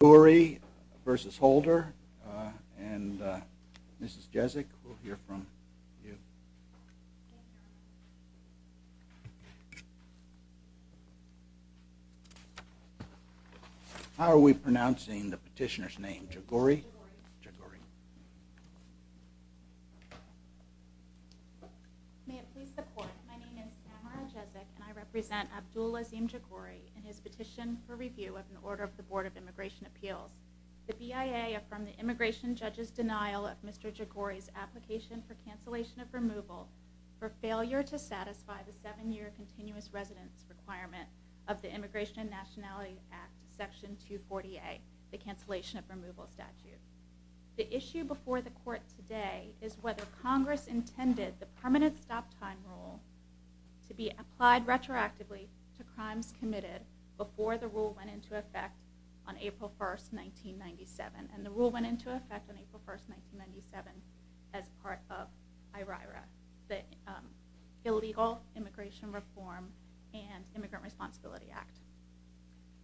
Jaghoori v. Holder and Mrs. Jezik, we'll hear from you. How are we pronouncing the petitioner's name? Jaghoori? Jaghoori. Jaghoori. May it please the court. My name is Tamara Jezik and I represent Abdul Azim Jaghoori and his petition for review of an order of the Board of Immigration Appeals. The BIA affirmed the immigration judge's denial of Mr. Jaghoori's application for cancellation of removal for failure to satisfy the seven-year continuous residence requirement of the Immigration and Nationality Act, Section 240A, the cancellation of removal statute. The issue before the court today is whether Congress intended the permanent stop-time rule to be applied retroactively to crimes committed before the rule went into effect on April 1, 1997. And the rule went into effect on April 1, 1997 as part of IRIRA, the Illegal Immigration Reform and Immigrant Responsibility Act.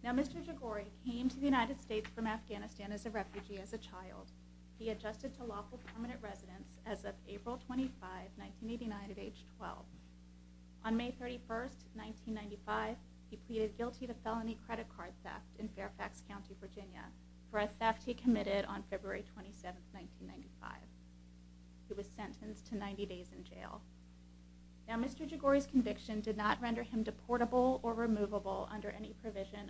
Now Mr. Jaghoori came to the United States from Afghanistan as a refugee as a child. He adjusted to lawful permanent residence as of April 25, 1989 at age 12. On May 31, 1995, he pleaded guilty to felony credit card theft in Fairfax County, Virginia for a theft he committed on February 27, 1995. He was sentenced to 90 days in jail. Now Mr. Jaghoori's conviction did not render him deportable or removable under any provision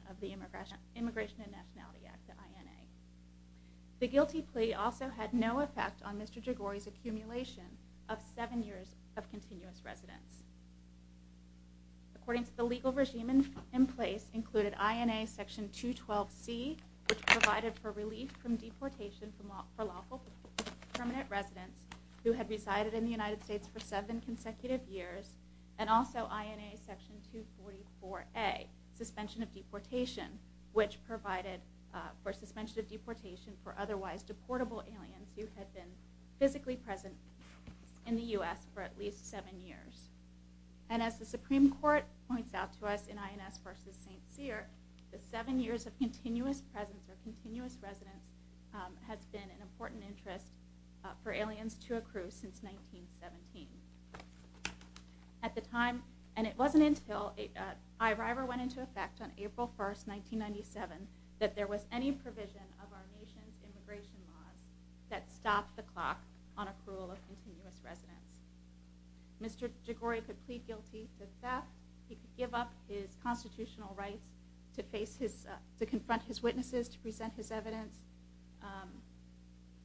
The guilty plea also had no effect on Mr. Jaghoori's accumulation of seven years of continuous residence. According to the legal regime in place included INA Section 212C, which provided for relief from deportation for lawful permanent residence who had resided in the United States for seven consecutive years, and also INA Section 244A, suspension of deportation, which provided for suspension of deportation for otherwise deportable aliens who had been physically present in the U.S. for at least seven years. And as the Supreme Court points out to us in INS v. St. Cyr, the seven years of continuous presence or continuous residence has been an important interest for aliens to accrue since 1917. At the time, and it wasn't until IRIVER went into effect on April 1, 1997, that there was any provision of our nation's immigration laws that stopped the clock on accrual of continuous residence. Mr. Jaghoori could plead guilty to theft. He could give up his constitutional rights to confront his witnesses, to present his evidence,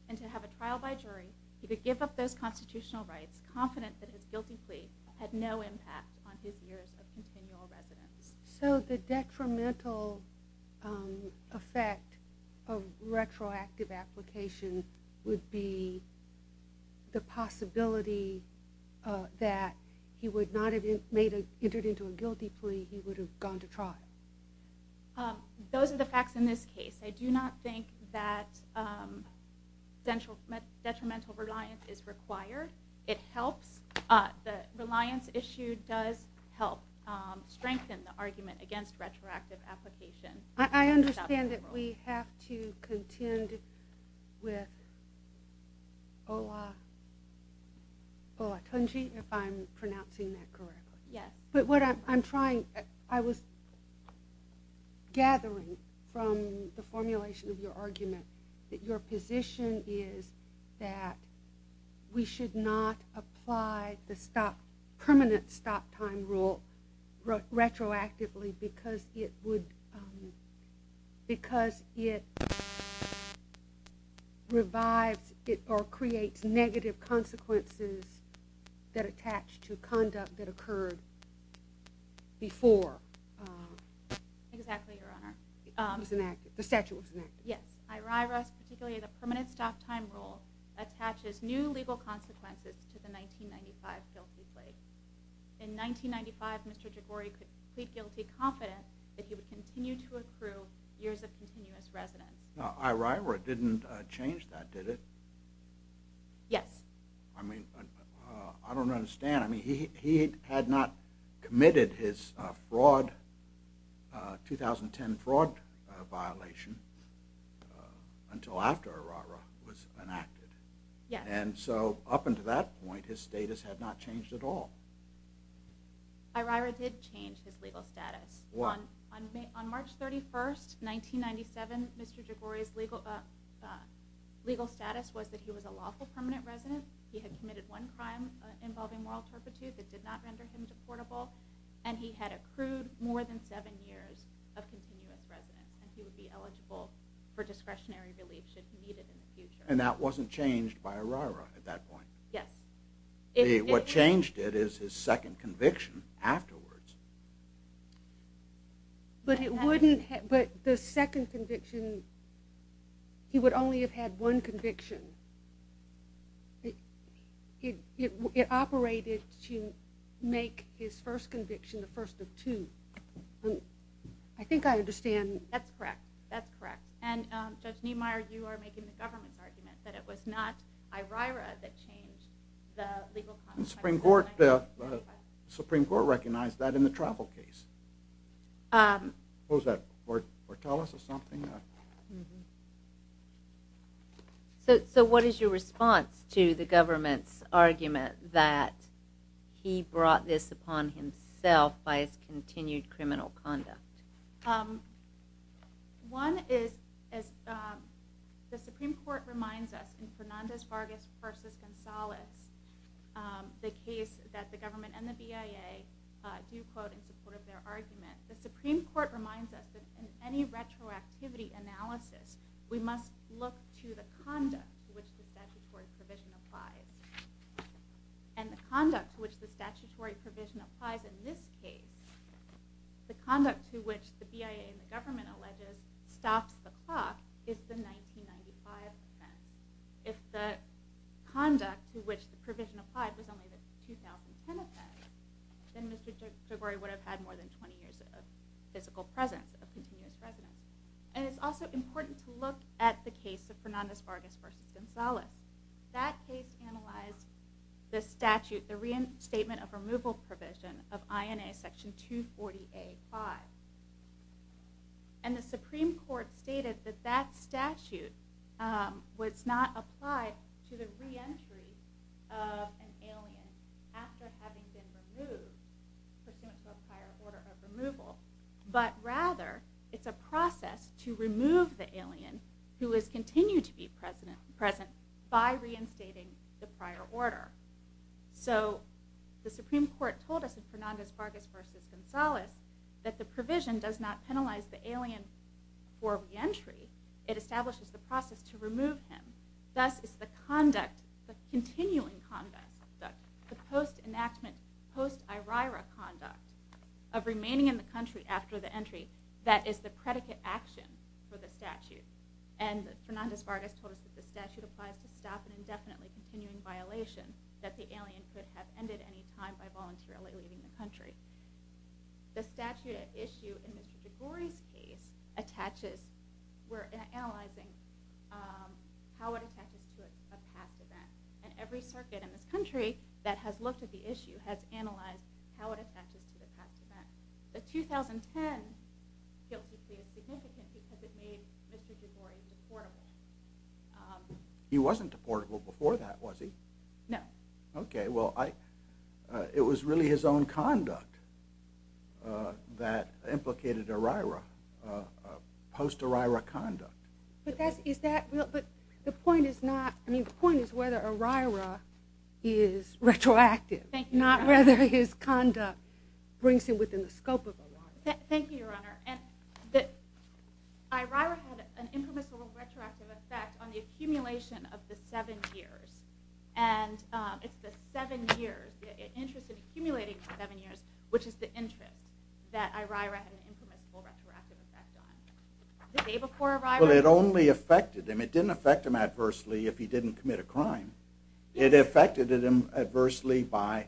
and to have a trial by jury. He could give up those constitutional rights, confident that his guilty plea had no impact on his years of continual residence. So the detrimental effect of retroactive application would be the possibility that he would not have entered into a guilty plea. He would have gone to trial. Those are the facts in this case. I do not think that detrimental reliance is required. It helps. The reliance issue does help strengthen the argument against retroactive application. I understand that we have to contend with Olatunji, if I'm pronouncing that correctly. Yes. But what I'm trying, I was gathering from the formulation of your argument that your position is that we should not apply the permanent stop time rule retroactively because it would, because it revives or creates negative consequences that attach to conduct that occurred before. Exactly, Your Honor. It was enacted, the statute was enacted. Yes. I rest particularly that the permanent stop time rule attaches new legal consequences to the 1995 guilty plea. In 1995, Mr. Jigori could plead guilty confident that he would continue to accrue years of continuous residence. Now, Iraira didn't change that, did it? Yes. I mean, I don't understand. I mean, he had not committed his fraud, 2010 fraud violation until after Iraira was enacted. Yes. And so up until that point, his status had not changed at all. Iraira did change his legal status. On March 31st, 1997, Mr. Jigori's legal status was that he was a lawful permanent resident. He had committed one crime involving moral turpitude that did not render him deportable, and he had accrued more than seven years of continuous residence, and he would be eligible for discretionary relief should he need it in the future. And that wasn't changed by Iraira at that point? Yes. What changed it is his second conviction afterwards. But the second conviction, he would only have had one conviction. It operated to make his first conviction the first of two. That's correct. That's correct. And Judge Niemeyer, you are making the government's argument that it was not Iraira that changed the legal conduct. The Supreme Court recognized that in the travel case. What was that, Fortales or something? So what is your response to the government's argument that he brought this upon himself by his continued criminal conduct? One is, the Supreme Court reminds us in Fernandez-Vargas v. Gonzalez, the case that the government and the BIA do quote in support of their argument, the Supreme Court reminds us that in any retroactivity analysis, we must look to the conduct to which the statutory provision applies. And the conduct to which the statutory provision applies in this case, the conduct to which the BIA and the government alleges stops the clock is the 1995 offense. If the conduct to which the provision applied was only the 2010 offense, then Mr. Jogori would have had more than 20 years of physical presence, of continuous residence. And it's also important to look at the case of Fernandez-Vargas v. Gonzalez. That case analyzed the statute, the reinstatement of removal provision of INA section 240A-5. And the Supreme Court stated that that statute was not applied to the reentry of an alien after having been removed pursuant to a prior order of removal, but rather it's a process to remove the alien who has continued to be present by reinstating the prior order. So the Supreme Court told us in Fernandez-Vargas v. Gonzalez that the provision does not penalize the alien for reentry. It establishes the process to remove him. Thus, it's the continuing conduct, the post-enactment, post-IRIRA conduct, of remaining in the country after the entry that is the predicate action for the statute. And Fernandez-Vargas told us that the statute applies to stop an indefinitely continuing violation that the alien could have ended any time by voluntarily leaving the country. The statute at issue in Mr. DeGore's case attaches, we're analyzing how it attaches to a past event. And every circuit in this country that has looked at the issue has analyzed how it attaches to the past event. The 2010 guilty plea is significant because it made Mr. DeGore deportable. He wasn't deportable before that, was he? No. Okay, well, it was really his own conduct that implicated IRIRA, post-IRIRA conduct. But the point is whether IRIRA is retroactive, not whether his conduct brings him within the scope of IRIRA. Thank you, Your Honor. IRIRA had an impermissible retroactive effect on the accumulation of the seven years. And it's the seven years, the interest in accumulating the seven years, which is the interest that IRIRA had an impermissible retroactive effect on. The day before IRIRA? Well, it only affected him. It didn't affect him adversely if he didn't commit a crime. It affected him adversely by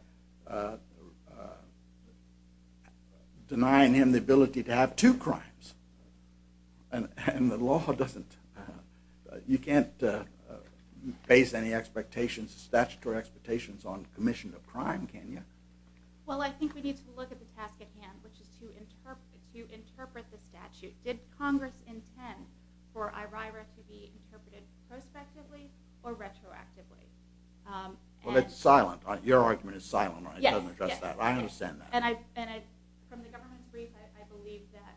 denying him the ability to have two crimes. And the law doesn't, you can't base any expectations, statutory expectations on commission of crime, can you? Well, I think we need to look at the task at hand, which is to interpret the statute. Did Congress intend for IRIRA to be interpreted prospectively or retroactively? Well, it's silent. Your argument is silent. It doesn't address that. I understand that. From the government's brief, I believe that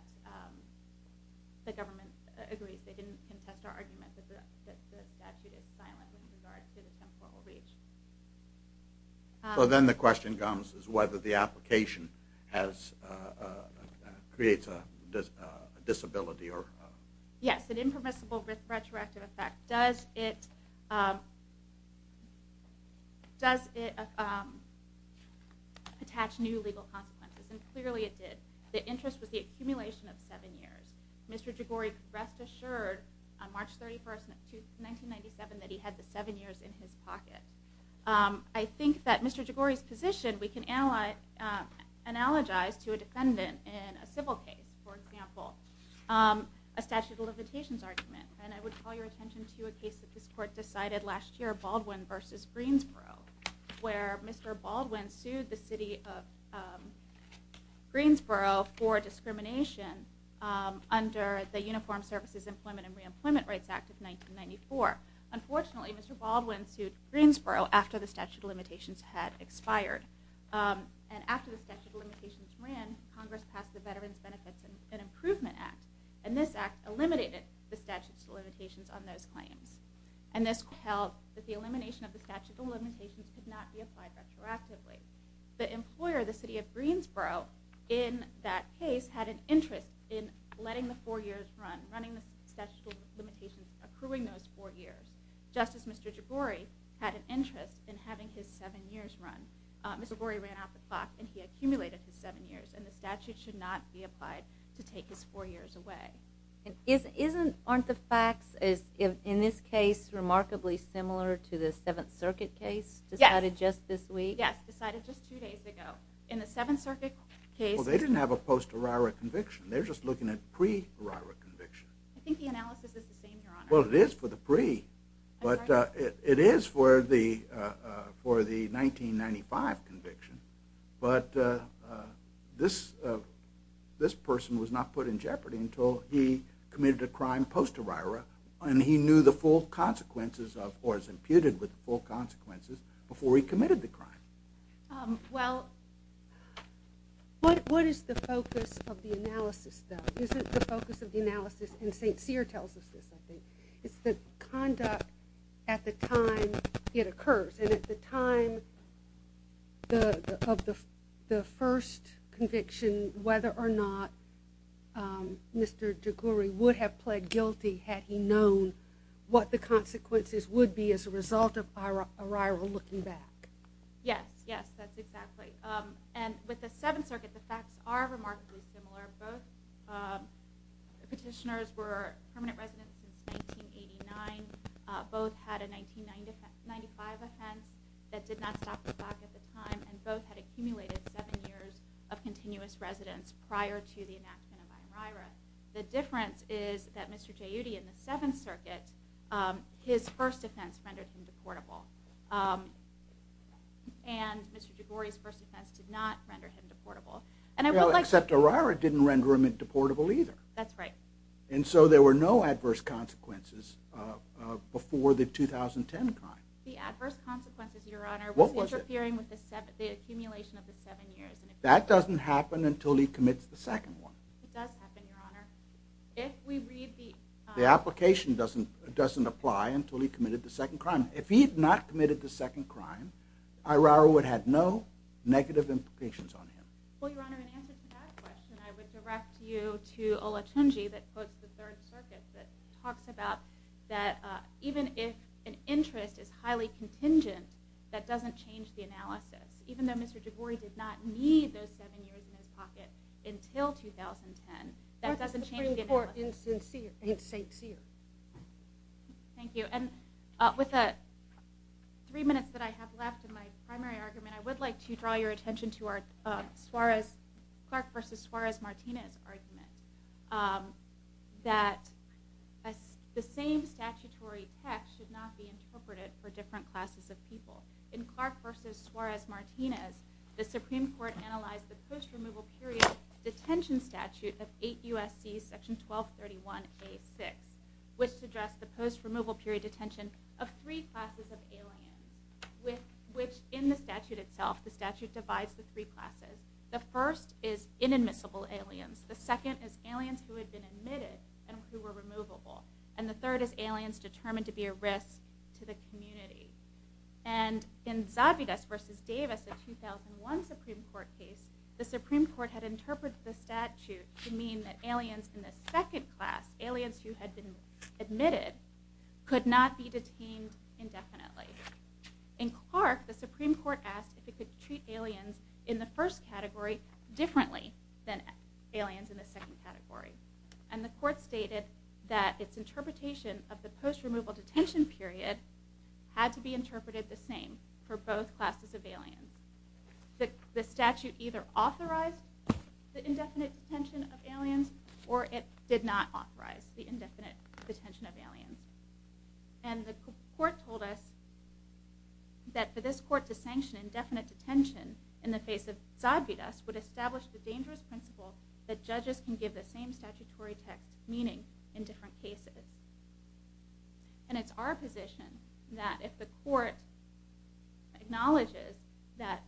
the government agrees. They didn't contest our argument that the statute is silent with regard to the temporal reach. So then the question comes is whether the application creates a disability. Yes, an impermissible retroactive effect. Does it attach new legal consequences? And clearly it did. The interest was the accumulation of seven years. Mr. Jaghori, rest assured, on March 31st, 1997, that he had the seven years in his pocket. I think that Mr. Jaghori's position we can analogize to a defendant in a civil case, for example, a statute of limitations argument. And I would call your attention to a case that this court decided last year, Baldwin v. Greensboro, where Mr. Baldwin sued the city of Greensboro for discrimination under the Uniformed Services Employment and Reemployment Rights Act of 1994. Unfortunately, Mr. Baldwin sued Greensboro after the statute of limitations had expired. And after the statute of limitations ran, Congress passed the Veterans Benefits and Improvement Act. And this act eliminated the statute of limitations on those claims. And this held that the elimination of the statute of limitations could not be applied retroactively. The employer, the city of Greensboro, in that case, had an interest in letting the four years run, running the statute of limitations, accruing those four years, just as Mr. Jaghori had an interest in having his seven years run. Mr. Jaghori ran out the clock, and he accumulated his seven years, and the statute should not be applied to take his four years away. And aren't the facts, in this case, remarkably similar to the Seventh Circuit case decided just this week? Yes, decided just two days ago. In the Seventh Circuit case... Well, they didn't have a post-Erira conviction. They're just looking at pre-Erira conviction. I think the analysis is the same, Your Honor. Well, it is for the pre. But it is for the 1995 conviction. But this person was not put in jeopardy until he committed a crime post-Erira, and he knew the full consequences of, or was imputed with the full consequences before he committed the crime. Well, what is the focus of the analysis, though? Isn't the focus of the analysis, and St. Cyr tells us this, I think, is the conduct at the time it occurs. And at the time of the first conviction, whether or not Mr. Joguri would have pled guilty had he known what the consequences would be as a result of a Erira looking back. Yes, yes, that's exactly. And with the Seventh Circuit, the facts are remarkably similar. Both petitioners were permanent residents since 1989. Both had a 1995 offense that did not stop the clock at the time, and both had accumulated seven years of continuous residence prior to the enactment of Ierira. The difference is that Mr. Joguri, in the Seventh Circuit, his first offense rendered him deportable, and Mr. Joguri's first offense did not render him deportable. Well, except Ierira didn't render him deportable either. That's right. And so there were no adverse consequences before the 2010 crime. The adverse consequences, Your Honor, was interfering with the accumulation of the seven years. That doesn't happen until he commits the second one. It does happen, Your Honor. If we read the... The application doesn't apply until he committed the second crime. If he had not committed the second crime, Ierira would have had no negative implications on him. Well, Your Honor, in answer to that question, I would direct you to Olatunji that quotes the Third Circuit that talks about that even if an interest is highly contingent, that doesn't change the analysis. Even though Mr. Joguri did not need those seven years in his pocket until 2010, that doesn't change the analysis. That's Supreme Court insincere. Thank you. And with the three minutes that I have left in my primary argument, I would like to draw your attention to Clark v. Suarez-Martinez argument that the same statutory text should not be interpreted for different classes of people. In Clark v. Suarez-Martinez, the Supreme Court analyzed the post-removal period detention statute of 8 U.S.C. Section 1231A.6, which suggests the post-removal period detention of three classes of aliens, which in the statute itself, the statute divides the three classes. The first is inadmissible aliens. The second is aliens who had been admitted and who were removable. And the third is aliens determined to be a risk to the community. And in Zavidas v. Davis, a 2001 Supreme Court case, the Supreme Court had interpreted the statute to mean that aliens in the second class, aliens who had been admitted, could not be detained indefinitely. In Clark, the Supreme Court asked if it could treat aliens in the first category differently than aliens in the second category. And the court stated that its interpretation of the post-removal detention period had to be interpreted the same for both classes of aliens. The statute either authorized the indefinite detention of aliens or it did not authorize the indefinite detention of aliens. And the court told us that for this court to sanction indefinite detention in the face of Zavidas would establish the dangerous principle that judges can give the same statutory text meaning in different cases. And it's our position that if the court acknowledges that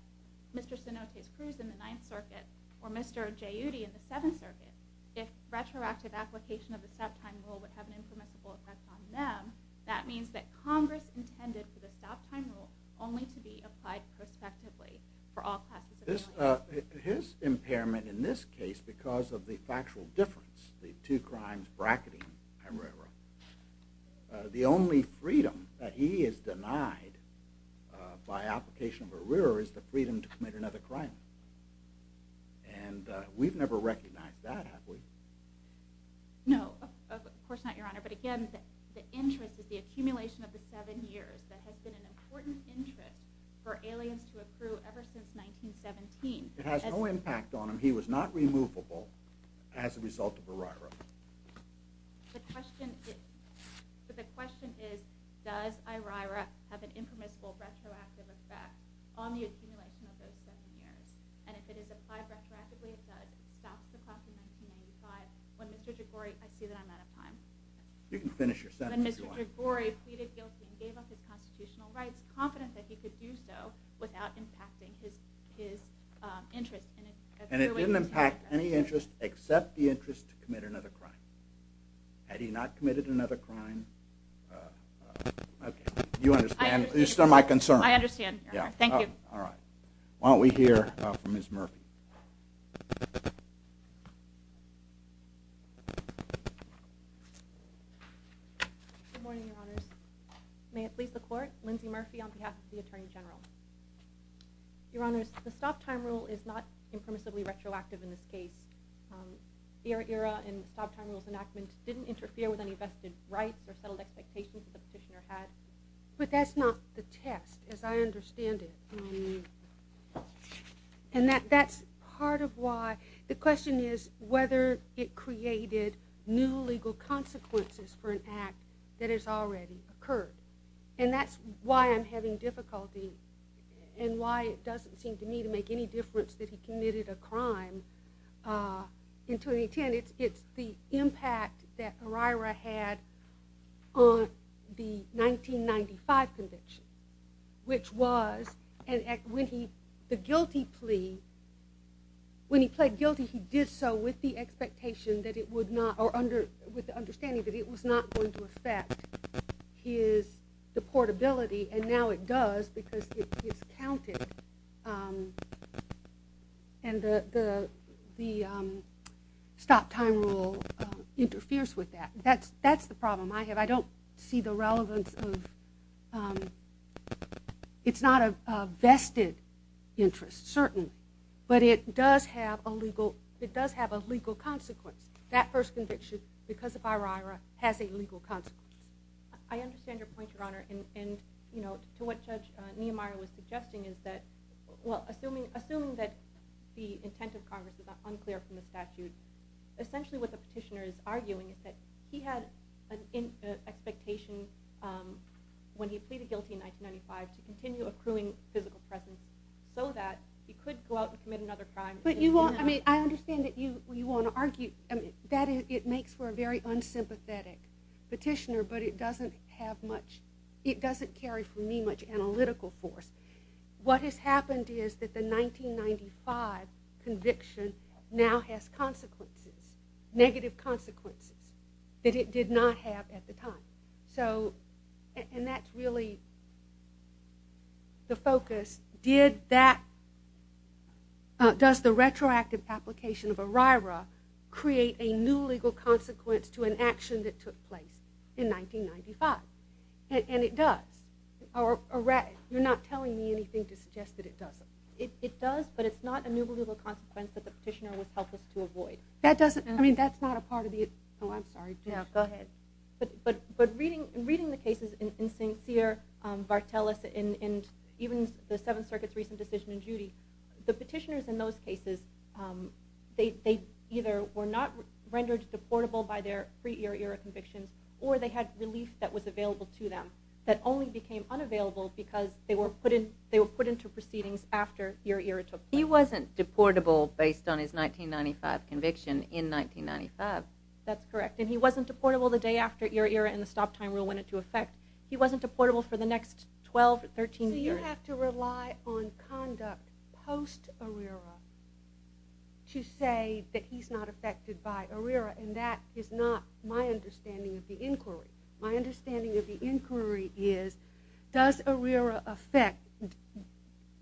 Mr. Sinote's cruise in the Ninth Circuit or Mr. Jayuti in the Seventh Circuit, if retroactive application of the stop time rule would have an impermissible effect on them, that means that Congress intended for the stop time rule only to be applied prospectively for all classes of aliens. His impairment in this case, because of the factual difference, the two crimes bracketing Herrera, the only freedom that he is denied by application of Herrera is the freedom to commit another crime. And we've never recognized that, have we? No, of course not, Your Honor. But again, the interest is the accumulation of the seven years that has been an important interest for aliens to accrue ever since 1917. It has no impact on him. And he was not removable as a result of Herrera. The question is, does Herrera have an impermissible retroactive effect on the accumulation of those seven years? And if it is applied retroactively, it does. It stops the class in 1995 when Mr. Jigori... I see that I'm out of time. You can finish your sentence, Your Honor. When Mr. Jigori pleaded guilty and gave up his constitutional rights, he was confident that he could do so without impacting his interest. And it didn't impact any interest except the interest to commit another crime. Had he not committed another crime... You understand my concern. I understand, Your Honor. Thank you. Why don't we hear from Ms. Murphy? Good morning, Your Honors. May it please the Court, Lindsay Murphy on behalf of the Attorney General. Your Honors, the stop-time rule is not impermissibly retroactive in this case. Herrera and the stop-time rule's enactment didn't interfere with any vested rights or settled expectations that the petitioner had. But that's not the test, as I understand it. And that's part of why... The question is whether it created new legal consequences for an act that has already occurred. And that's why I'm having difficulty and why it doesn't seem to me to make any difference that he committed a crime in 2010. It's the impact that Herrera had on the 1995 conviction, which was when he pled guilty, he did so with the expectation that it would not... Or with the understanding that it was not going to affect his... The portability, and now it does because it's counted. And the stop-time rule interferes with that. That's the problem I have. I don't see the relevance of... It's not a vested interest, certainly. But it does have a legal consequence. That first conviction, because of Herrera, has a legal consequence. I understand your point, Your Honor. And to what Judge Niemeyer was suggesting is that... Well, assuming that the intent of Congress is unclear from the statute, essentially what the petitioner is arguing is that he had an expectation when he pleaded guilty in 1995 to continue accruing physical presence so that he could go out and commit another crime. I understand that you want to argue that it makes for a very unsympathetic petitioner, but it doesn't have much... It doesn't carry for me much analytical force. What has happened is that the 1995 conviction now has consequences, negative consequences that it did not have at the time. And that's really the focus. Did that... Does the retroactive application of Herrera create a new legal consequence to an action that took place in 1995? And it does. You're not telling me anything to suggest that it doesn't. It does, but it's not a new legal consequence that the petitioner was helpless to avoid. That doesn't... I mean, that's not a part of the... Oh, I'm sorry. Go ahead. But reading the cases in Sincere, Vartelis, and even the Seventh Circuit's recent decision in Judy, the petitioners in those cases, they either were not rendered deportable by their pre-Herrera convictions, or they had relief that was available to them that only became unavailable because they were put into proceedings after Herrera took place. He wasn't deportable based on his 1995 conviction in 1995. That's correct. And he wasn't deportable the day after Herrera and the stop-time rule went into effect. He wasn't deportable for the next 12, 13 years. So you have to rely on conduct post-Herrera to say that he's not affected by Herrera, and that is not my understanding of the inquiry. My understanding of the inquiry is, does Herrera effect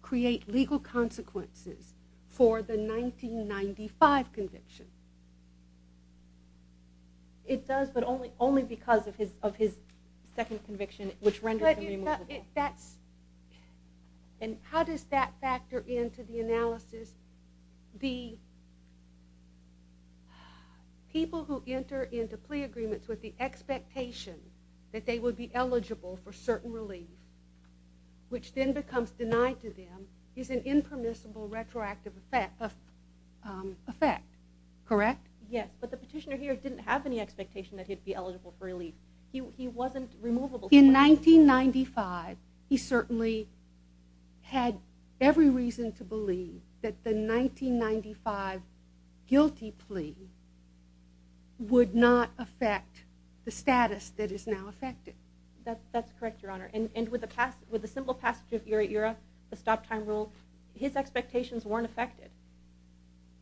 create legal consequences for the 1995 conviction? It does, but only because of his second conviction, which rendered him removable. And how does that factor into the analysis? The people who enter into plea agreements with the expectation that they would be eligible for certain relief, which then becomes denied to them, is an impermissible retroactive effect, correct? Yes, but the petitioner here didn't have any expectation that he'd be eligible for relief. He wasn't removable. In 1995, he certainly had every reason to believe that the 1995 guilty plea would not affect the status that is now affected. That's correct, Your Honor. And with the simple passage of ERA-ERA, the stop-time rule, his expectations weren't affected.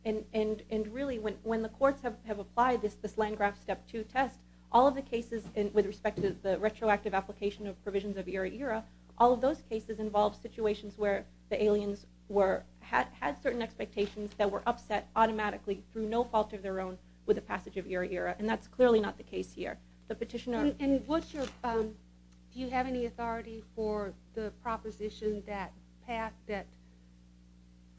And really, when the courts have applied this Landgraf Step 2 test, all of the cases with respect to the retroactive application of provisions of ERA-ERA, all of those cases involve situations where the aliens had certain expectations that were upset automatically, through no fault of their own, with the passage of ERA-ERA. And that's clearly not the case here. Do you have any authority for the proposition that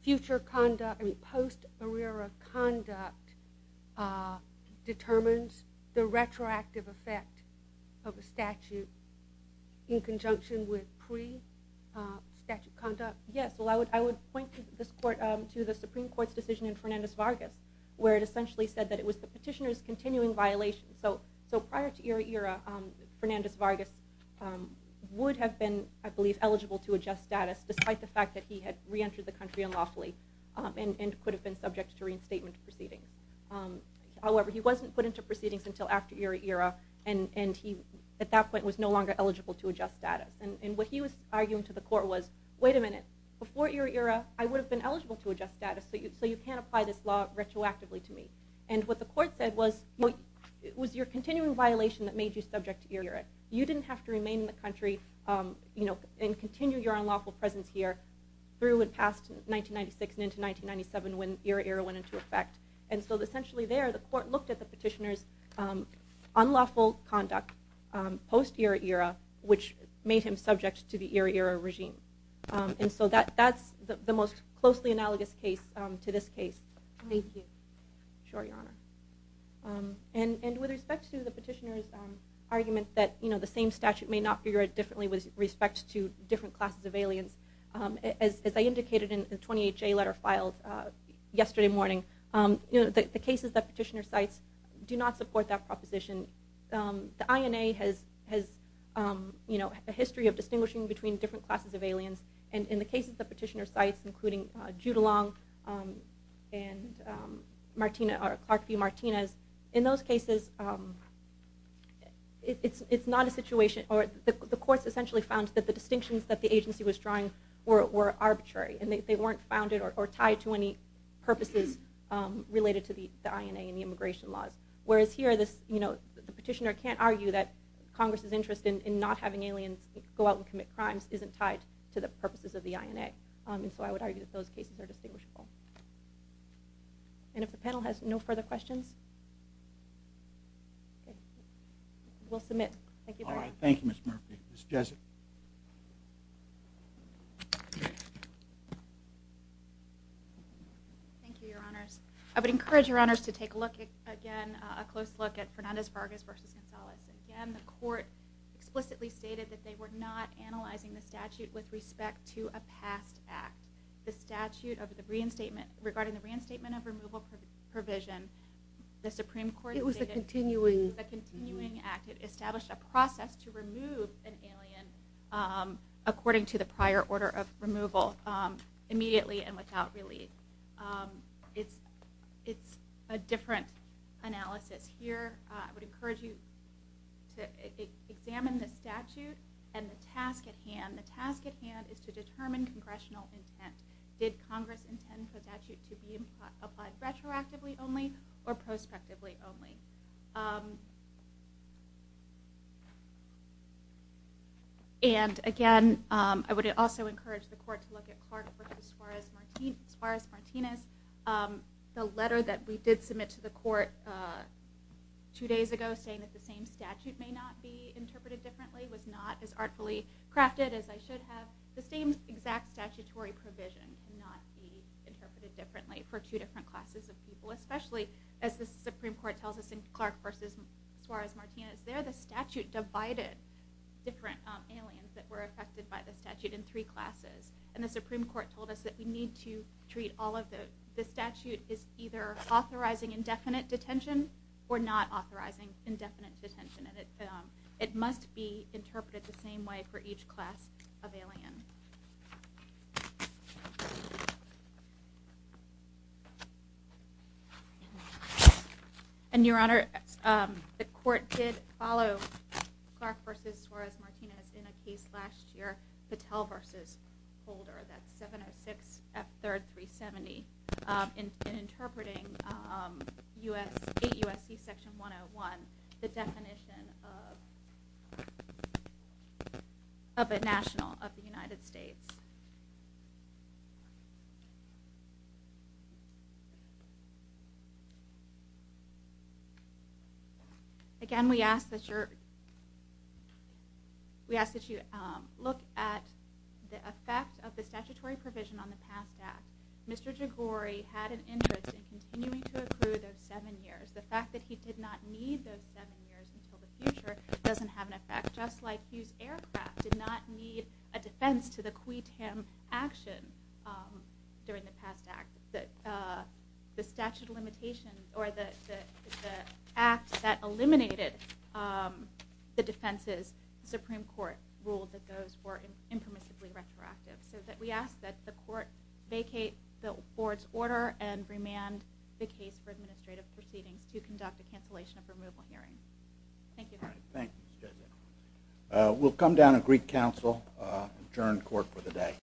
future conduct, I mean, post-ERA-ERA conduct determines the retroactive effect of a statute in conjunction with pre-statute conduct? Yes. Well, I would point to the Supreme Court's decision in Fernandez-Vargas, where it essentially said that it was the petitioner's continuing violation. So prior to ERA-ERA, Fernandez-Vargas would have been, I believe, eligible to adjust status, despite the fact that he had reentered the country unlawfully and could have been subject to reinstatement proceedings. However, he wasn't put into proceedings until after ERA-ERA, and at that point was no longer eligible to adjust status. And what he was arguing to the court was, wait a minute, before ERA-ERA, I would have been eligible to adjust status, so you can't apply this law retroactively to me. And what the court said was, it was your continuing violation that made you subject to ERA-ERA. You didn't have to remain in the country and continue your unlawful presence here through and past 1996 and into 1997 when ERA-ERA went into effect. And so essentially there, the court looked at the petitioner's unlawful conduct post-ERA-ERA, which made him subject to the ERA-ERA regime. And so that's the most closely analogous case to this case. Thank you. Sure, Your Honor. And with respect to the petitioner's argument that the same statute may not figure it differently with respect to different classes of aliens, as I indicated in the 28-J letter filed yesterday morning, the cases that petitioner cites do not support that proposition. The INA has a history of distinguishing between different classes of aliens, and in the cases that petitioner cites, including Judalong and Clarkview-Martinez, in those cases it's not a situation, or the courts essentially found that the distinctions that the agency was drawing were arbitrary, and they weren't founded or tied to any purposes related to the INA and the immigration laws. Whereas here the petitioner can't argue that Congress's interest in not having aliens go out and commit crimes isn't tied to the purposes of the INA, and so I would argue that those cases are distinguishable. And if the panel has no further questions, we'll submit. Thank you. All right, thank you, Ms. Murphy. Ms. Jessup. Thank you, Your Honors. I would encourage Your Honors to take a look again, a close look at Fernandez-Vargas v. Gonzalez. Again, the court explicitly stated that they were not analyzing the statute with respect to a past act. The statute regarding the reinstatement of removal provision, the Supreme Court stated It was a continuing It was a continuing act. It established a process to remove an alien according to the prior order of removal, immediately and without relief. It's a different analysis here. I would encourage you to examine the statute and the task at hand. The task at hand is to determine congressional intent. Did Congress intend for the statute to be applied retroactively only or prospectively only? And again, I would also encourage the court to look at Clark v. Suarez-Martinez. The letter that we did submit to the court two days ago saying that the same statute may not be interpreted differently was not as artfully crafted as I should have. The same exact statutory provision cannot be interpreted differently for two different classes of people. Especially, as the Supreme Court tells us in Clark v. Suarez-Martinez, there the statute divided different aliens that were affected by the statute in three classes. And the Supreme Court told us that we need to treat all of those. The statute is either authorizing indefinite detention or not authorizing indefinite detention. And it must be interpreted the same way for each class of alien. And, Your Honor, the court did follow Clark v. Suarez-Martinez in a case last year, Patel v. Holder. That's 706 F. 3rd, 370. In interpreting 8 U.S.C. Section 101, the definition of a national of the United States. Again, we ask that you look at the effect of the statutory provision on the past act. Mr. Jaghori had an interest in continuing to accrue those seven years. The fact that he did not need those seven years until the future doesn't have an effect. Just like Hughes Aircraft did not need a defense to the quitem action during the past act. The statute of limitations, or the act that eliminated the defenses, the Supreme Court ruled that those were impermissibly retroactive. So that we ask that the court vacate the board's order and remand the case for administrative proceedings to conduct a cancellation of removal hearing. Thank you, Your Honor. Thank you, Mr. Jaghori. We'll come down and greet counsel, adjourn court for the day.